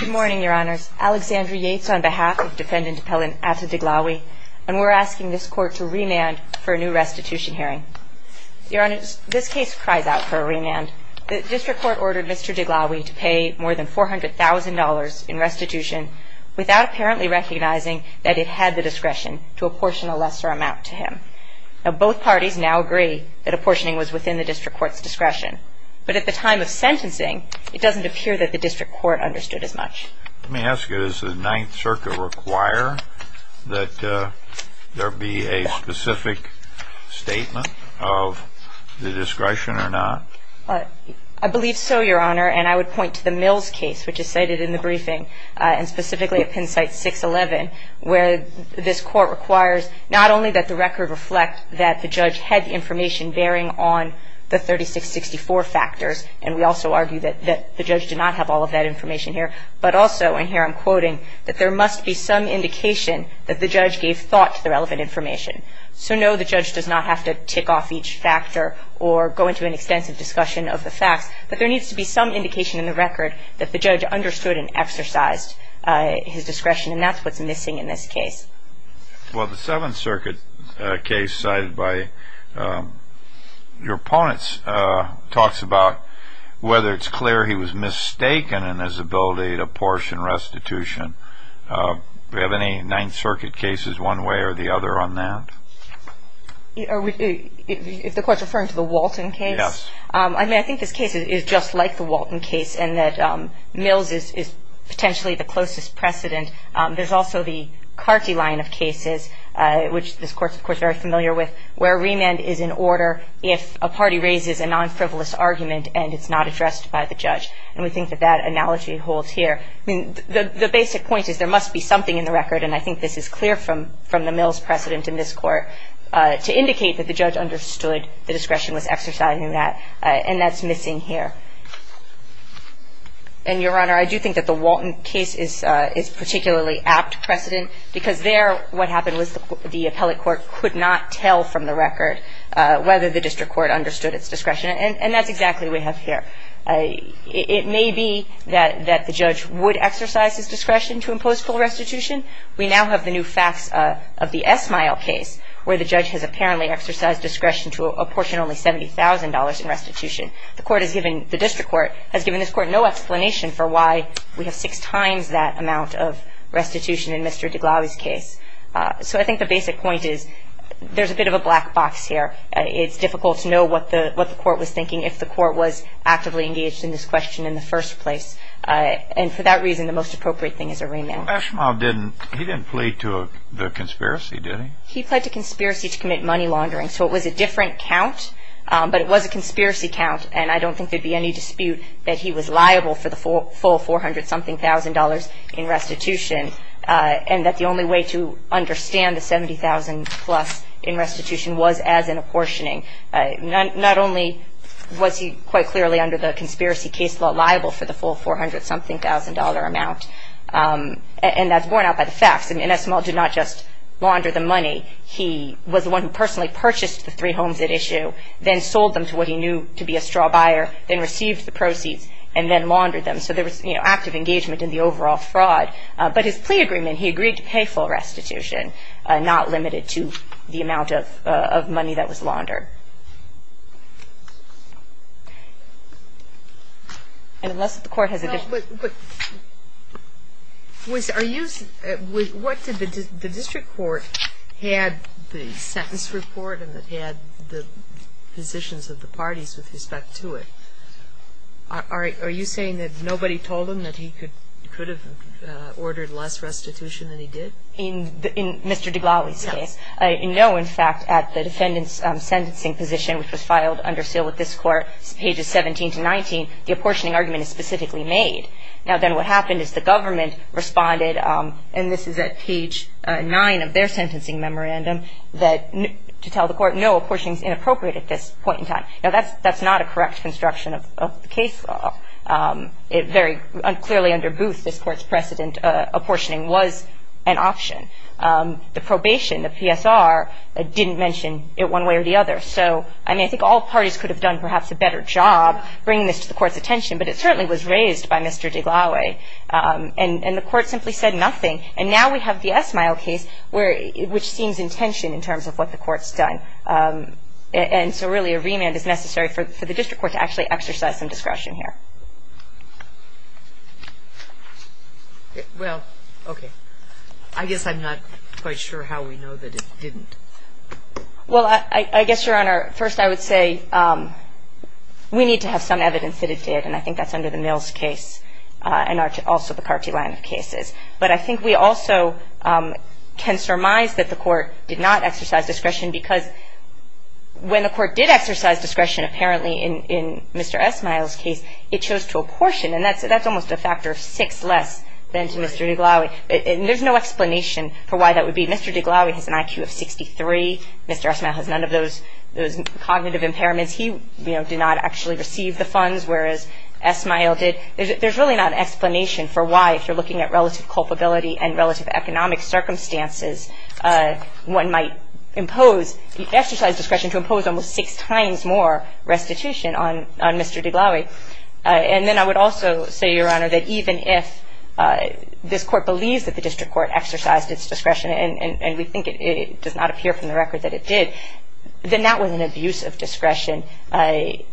Good morning, Your Honors. Alexandria Yates on behalf of Defendant Appellant Ata Dighlawi, and we're asking this Court to remand for a new restitution hearing. Your Honors, this case cries out for a remand. The District Court ordered Mr. Dighlawi to pay more than $400,000 in restitution without apparently recognizing that it had the discretion to apportion a lesser amount to him. Now both parties now agree that apportioning was within the District Court's discretion. But at the time of sentencing, it doesn't appear that the District Court understood as much. Let me ask you, does the Ninth Circuit require that there be a specific statement of the discretion or not? I believe so, Your Honor, and I would point to the Mills case, which is cited in the briefing, and specifically at Penn Site 611, where this Court requires not only that the record reflect that the judge had information bearing on the 3664 factors, and we also argue that the judge did not have all of that information here, but also, and here I'm quoting, that there must be some indication that the judge gave thought to the relevant information. So no, the judge does not have to tick off each factor or go into an extensive discussion of the facts, but there needs to be some indication in the record that the judge understood and exercised his discretion, and that's what's missing in this case. Well, the Seventh Circuit case cited by your opponents talks about whether it's clear he was mistaken in his ability to apportion restitution. Do we have any Ninth Circuit cases one way or the other on that? If the Court's referring to the Walton case, I mean, I think this case is just like the Walton case in that Mills is potentially the closest precedent. There's also the Carty line of cases, which this Court's, of course, very familiar with, where remand is in order if a party raises a non-frivolous argument and it's not addressed by the judge, and we think that that analogy holds here. I mean, the basic point is there must be something in the record, and I think this is clear from the Mills precedent in this Court, to indicate that the judge understood the discretion was exercised in that, and that's missing here. And, Your Honor, I do think that the Walton case is particularly apt precedent because there what happened was the appellate court could not tell from the record whether the district court understood its discretion, and that's exactly what we have here. It may be that the judge would exercise his discretion to impose full restitution. We now have the new facts of the Esmail case, where the judge has apparently exercised discretion to apportion only $70,000 in restitution. The court has given, the district court has given this court no explanation for why we have six times that amount of restitution in Mr. deGlauwe's case. So I think the basic point is there's a bit of a black box here. It's difficult to know what the court was thinking if the court was actively engaged in this question in the first place, and for that reason, the most appropriate thing is a remand. Well, Esmail didn't, he didn't plead to the conspiracy, did he? He pled to conspiracy to commit money laundering, so it was a different count, but it was a conspiracy count, and I don't think there'd be any dispute that he was liable for the full $400-something-thousand in restitution, and that the only way to understand the $70,000-plus in restitution was as an apportioning. Not only was he quite clearly under the conspiracy case law liable for the full $400-something-thousand amount, and that's borne out by the facts. I mean, Esmail did not just launder the money. He was the one who personally purchased the three homes at issue, then sold them to what he knew to be a straw buyer, then received the proceeds, and then laundered them, so there was active engagement in the overall fraud. But his plea agreement, he agreed to pay full restitution, not limited to the amount of money that was laundered. And unless the Court has a different question. But, but, was, are you, what did the district court had the sentence report and had the positions of the parties with respect to it? Are you saying that nobody told him that he could have ordered less restitution than he did? No, in fact, at the defendant's sentencing position, which was filed under seal with this Court, pages 17 to 19, the apportioning argument is specifically made. Now, then what happened is the government responded, and this is at page 9 of their sentencing memorandum, that, to tell the Court, no, apportioning is inappropriate at this point in time. Now, that's, that's not a correct construction of the case law. It very clearly underbooths this Court's precedent. Apportioning was an option. The probation, the PSR, didn't mention it one way or the other. So, I mean, I think all parties could have done perhaps a better job bringing this to the Court's attention, but it certainly was raised by Mr. DeGlawe. And, and the Court simply said nothing, and now we have the Esmail case, where, which seems intention in terms of what the Court's done. And so, really, a remand is necessary for, for the district court to actually exercise some discretion here. Well, okay. I guess I'm not quite sure how we know that it didn't. Well, I, I guess, Your Honor, first I would say we need to have some evidence that it did, and I think that's under the Mills case, and also the Carty line of cases. But I think we also can surmise that the Court did not exercise discretion because when the Court did exercise discretion, apparently, in, in Mr. Esmail's case, it chose to apportion, and that's, that's almost a factor of six less than to Mr. DeGlawe. And there's no explanation for why that would be. Mr. DeGlawe has an IQ of 63. Mr. Esmail has none of those, those cognitive impairments. He, you know, did not actually receive the funds, whereas Esmail did. There's, there's really not an explanation for why, if you're looking at relative culpability and relative economic circumstances, one might impose, exercise discretion to impose almost six times more restitution on, on Mr. DeGlawe. And then I would also say, Your Honor, that even if this Court believes that the district court exercised its discretion, and, and we think it, it does not appear from the record that it did, then that was an abuse of discretion,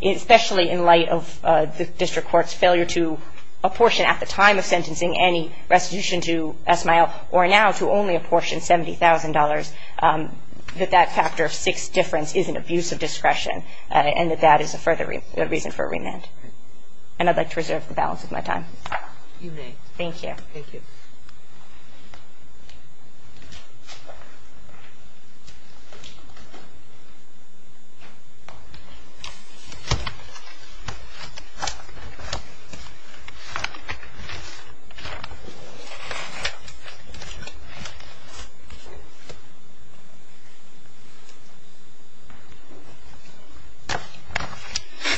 especially in light of the district court's failure to apportion at the time of sentencing any restitution to Esmail, or now to only apportion $70,000, that that factor of six difference is an abuse of discretion, and that that is a further reason for remand. And I'd like to reserve the balance of my time. You may. Thank you.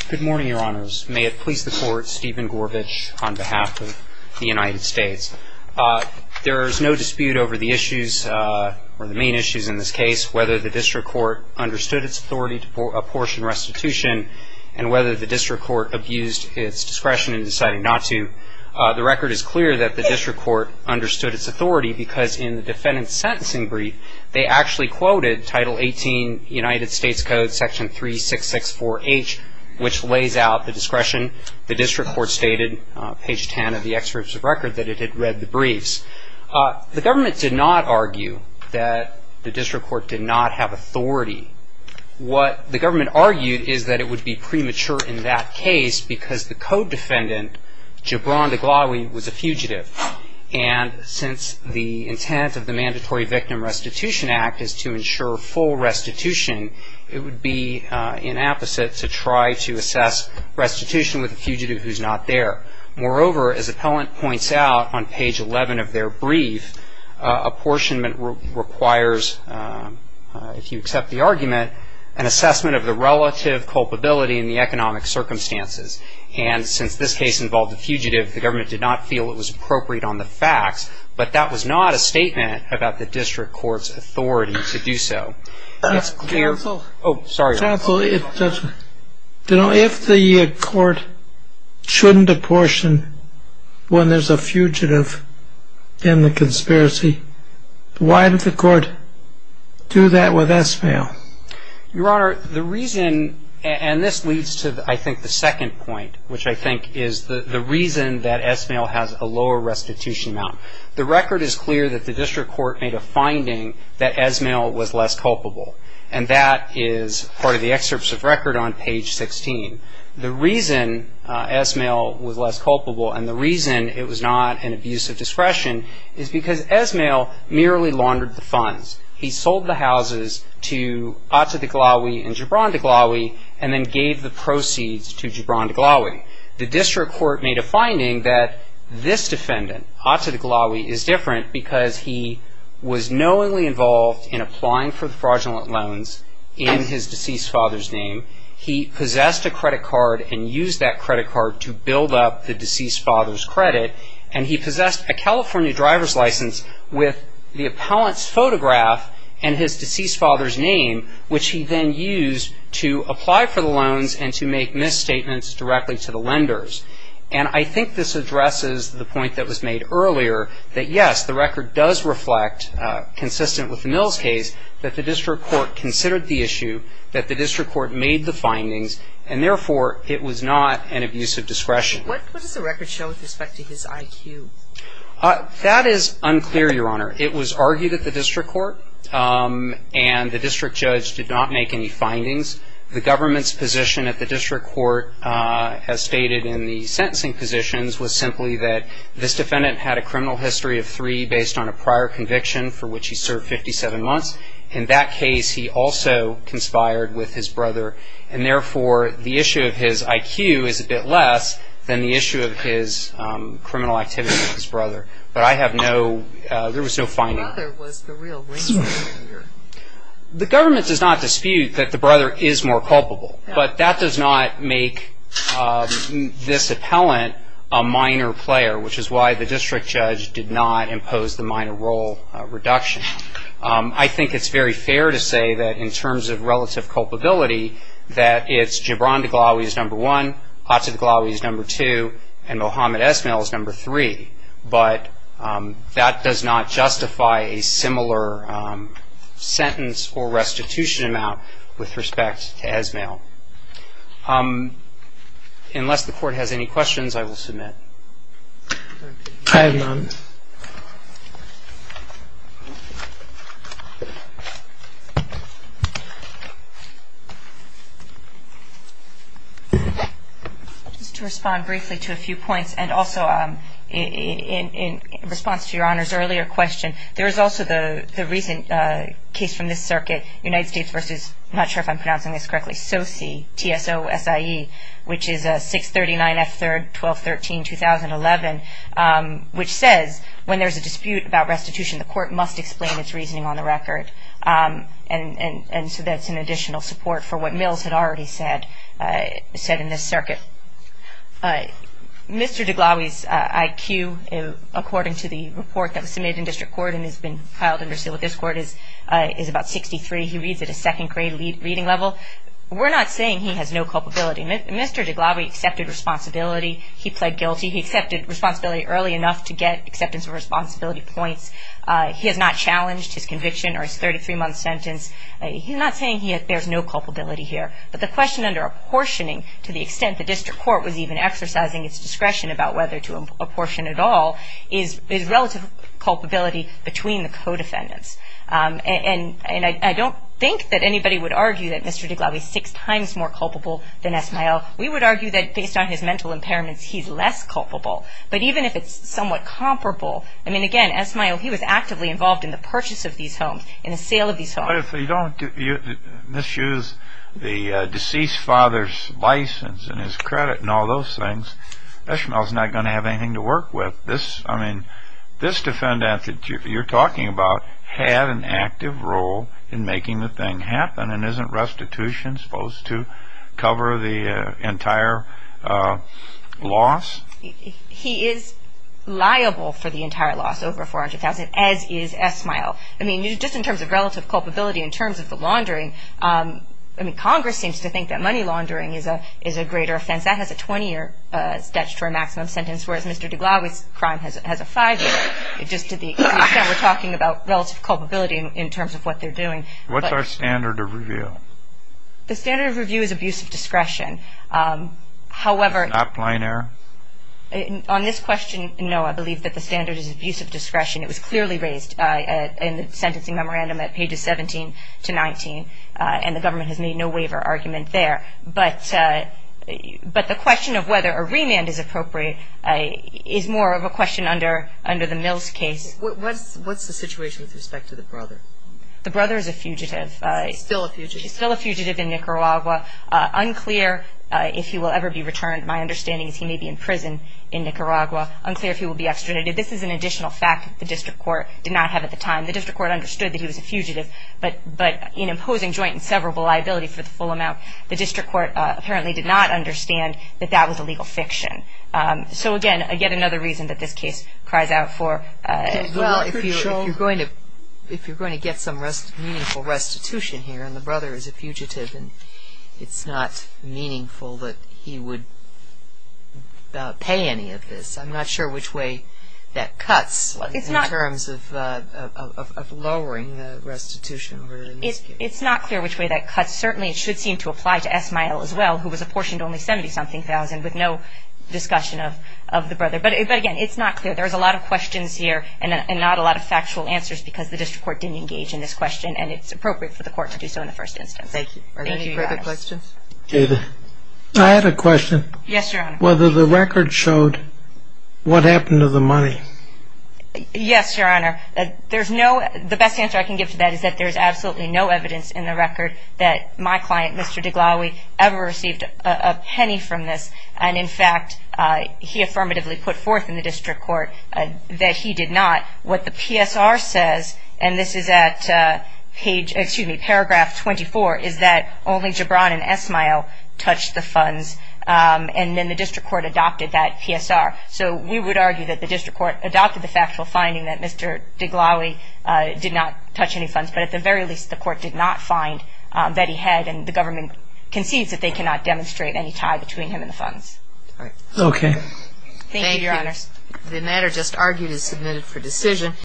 Good morning, Your Honors. May it please the Court, Stephen Gorbach on behalf of the United States. There is no dispute over the issues, or the main issues in this case, whether the district court understood its authority to apportion restitution and whether the district court abused its discretion in deciding not to. The record is clear that the district court understood its authority because in the defendant's sentencing brief, they actually quoted Title 18, United States Code, Section 3664H, which lays out the discretion. The district court stated, page 10 of the excerpt of the record, that it had read the briefs. The government did not argue that the district court did not have authority. What the government argued is that it would be premature in that case because the co-defendant, Jabron DeGlawe, was a fugitive. And since the intent of the Mandatory Victim Restitution Act is to ensure full restitution, it would be inapposite to try to assess restitution with a fugitive who's not there. Moreover, as the appellant points out on page 11 of their brief, apportionment requires, if you accept the argument, an assessment of the relative culpability in the economic circumstances. And since this case involved a fugitive, the government did not feel it was appropriate on the facts. But that was not a statement about the district court's authority to do so. It's clear. Oh, sorry. If the court shouldn't apportion when there's a fugitive in the conspiracy, why did the court do that with Esmail? Your Honor, the reason, and this leads to, I think, the second point, which I think is the reason that Esmail has a lower restitution amount. The record is clear that the district court made a finding that Esmail was less culpable. And that is part of the excerpts of record on page 16. The reason Esmail was less culpable and the reason it was not an abuse of discretion is because Esmail merely laundered the funds. He sold the houses to Atta Deglawi and Gibran Deglawi and then gave the proceeds to Gibran Deglawi. The district court made a finding that this defendant, Atta Deglawi, is different because he was knowingly involved in applying for fraudulent loans in his deceased father's name. He possessed a credit card and used that credit card to build up the deceased father's credit. And he possessed a California driver's license with the appellant's photograph and his deceased father's name, which he then used to apply for the loans and to make misstatements directly to the lenders. And I think this addresses the point that was made earlier that, yes, the record does reflect, consistent with the Mills case, that the district court considered the issue, that the district court made the findings, and, therefore, it was not an abuse of discretion. What does the record show with respect to his IQ? That is unclear, Your Honor. It was argued at the district court and the district judge did not make any findings. The government's position at the district court, as stated in the sentencing positions, was simply that this defendant had a criminal history of three based on a prior conviction for which he served 57 months. In that case, he also conspired with his brother. And, therefore, the issue of his IQ is a bit less than the issue of his criminal activity with his brother. But I have no ‑‑ there was no finding. The brother was the real reason. The government does not dispute that the brother is more culpable. But that does not make this appellant a minor player, which is why the district judge did not impose the minor role reduction. I think it's very fair to say that in terms of relative culpability, that it's Gibran Deglawi is number one, Atif Deglawi is number two, and Mohammed Esmail is number three. But that does not justify a similar sentence or restitution amount with respect to Esmail. Unless the court has any questions, I will submit. I have none. Just to respond briefly to a few points, and also in response to Your Honor's earlier question, there is also the recent case from this circuit, United States versus, I'm not sure if I'm pronouncing this correctly, SOCI, T-S-O-S-I-E, which is 639 F3, 1213, 2011, which says when there's a dispute about restitution, the court must explain its reasoning on the record. And so that's an additional support for what Mills had already said in this circuit. Mr. Deglawi's IQ, according to the report that was submitted in district court and has been filed in Brazil with this court, is about 63. He reads at a second grade reading level. We're not saying he has no culpability. Mr. Deglawi accepted responsibility. He pled guilty. He accepted responsibility early enough to get acceptance of responsibility points. He has not challenged his conviction or his 33-month sentence. He's not saying there's no culpability here. But the question under apportioning to the extent the district court was even exercising its discretion about whether to apportion at all is relative culpability between the co-defendants. And I don't think that anybody would argue that Mr. Deglawi is six times more culpable than Esmael. We would argue that based on his mental impairments, he's less culpable. But even if it's somewhat comparable, I mean, again, Esmael, he was actively involved in the purchase of these homes, in the sale of these homes. But if you don't misuse the deceased father's license and his credit and all those things, Esmael's not going to have anything to work with. This defendant that you're talking about had an active role in making the thing happen, and isn't restitution supposed to cover the entire loss? He is liable for the entire loss, over $400,000, as is Esmael. I mean, just in terms of relative culpability, in terms of the laundering, I mean, Congress seems to think that money laundering is a greater offense. That has a 20-year statutory maximum sentence, whereas Mr. Deglawi's crime has a five-year. Just to the extent we're talking about relative culpability in terms of what they're doing. What's our standard of review? The standard of review is abuse of discretion. However — Not plain error? On this question, no. I believe that the standard is abuse of discretion. It was clearly raised in the sentencing memorandum at pages 17 to 19, and the government has made no waiver argument there. But the question of whether a remand is appropriate is more of a question under the Mills case. What's the situation with respect to the brother? The brother is a fugitive. He's still a fugitive? He's still a fugitive in Nicaragua. Unclear if he will ever be returned. My understanding is he may be in prison in Nicaragua. Unclear if he will be extradited. This is an additional fact the district court did not have at the time. The district court understood that he was a fugitive, but in imposing joint and severable liability for the full amount, the district court apparently did not understand that that was a legal fiction. So, again, yet another reason that this case cries out for — Well, if you're going to get some meaningful restitution here, and the brother is a fugitive, and it's not meaningful that he would pay any of this, I'm not sure which way that cuts in terms of lowering the restitution. It's not clear which way that cuts. Certainly it should seem to apply to Esmael as well, who was apportioned only $70-something thousand with no discussion of the brother. But, again, it's not clear. There's a lot of questions here and not a lot of factual answers because the district court didn't engage in this question, and it's appropriate for the court to do so in the first instance. Thank you. Are there any further questions? David. I had a question. Yes, Your Honor. Whether the record showed what happened to the money. Yes, Your Honor. There's no — My client, Mr. Deglawi, ever received a penny from this, and, in fact, he affirmatively put forth in the district court that he did not. What the PSR says, and this is at paragraph 24, is that only Gibran and Esmael touched the funds, and then the district court adopted that PSR. So we would argue that the district court adopted the factual finding that Mr. Deglawi did not touch any funds, but at the very least the court did not find that he had, and the government concedes that they cannot demonstrate any tie between him and the funds. Okay. Thank you, Your Honors. Thank you. The matter just argued is submitted for decision.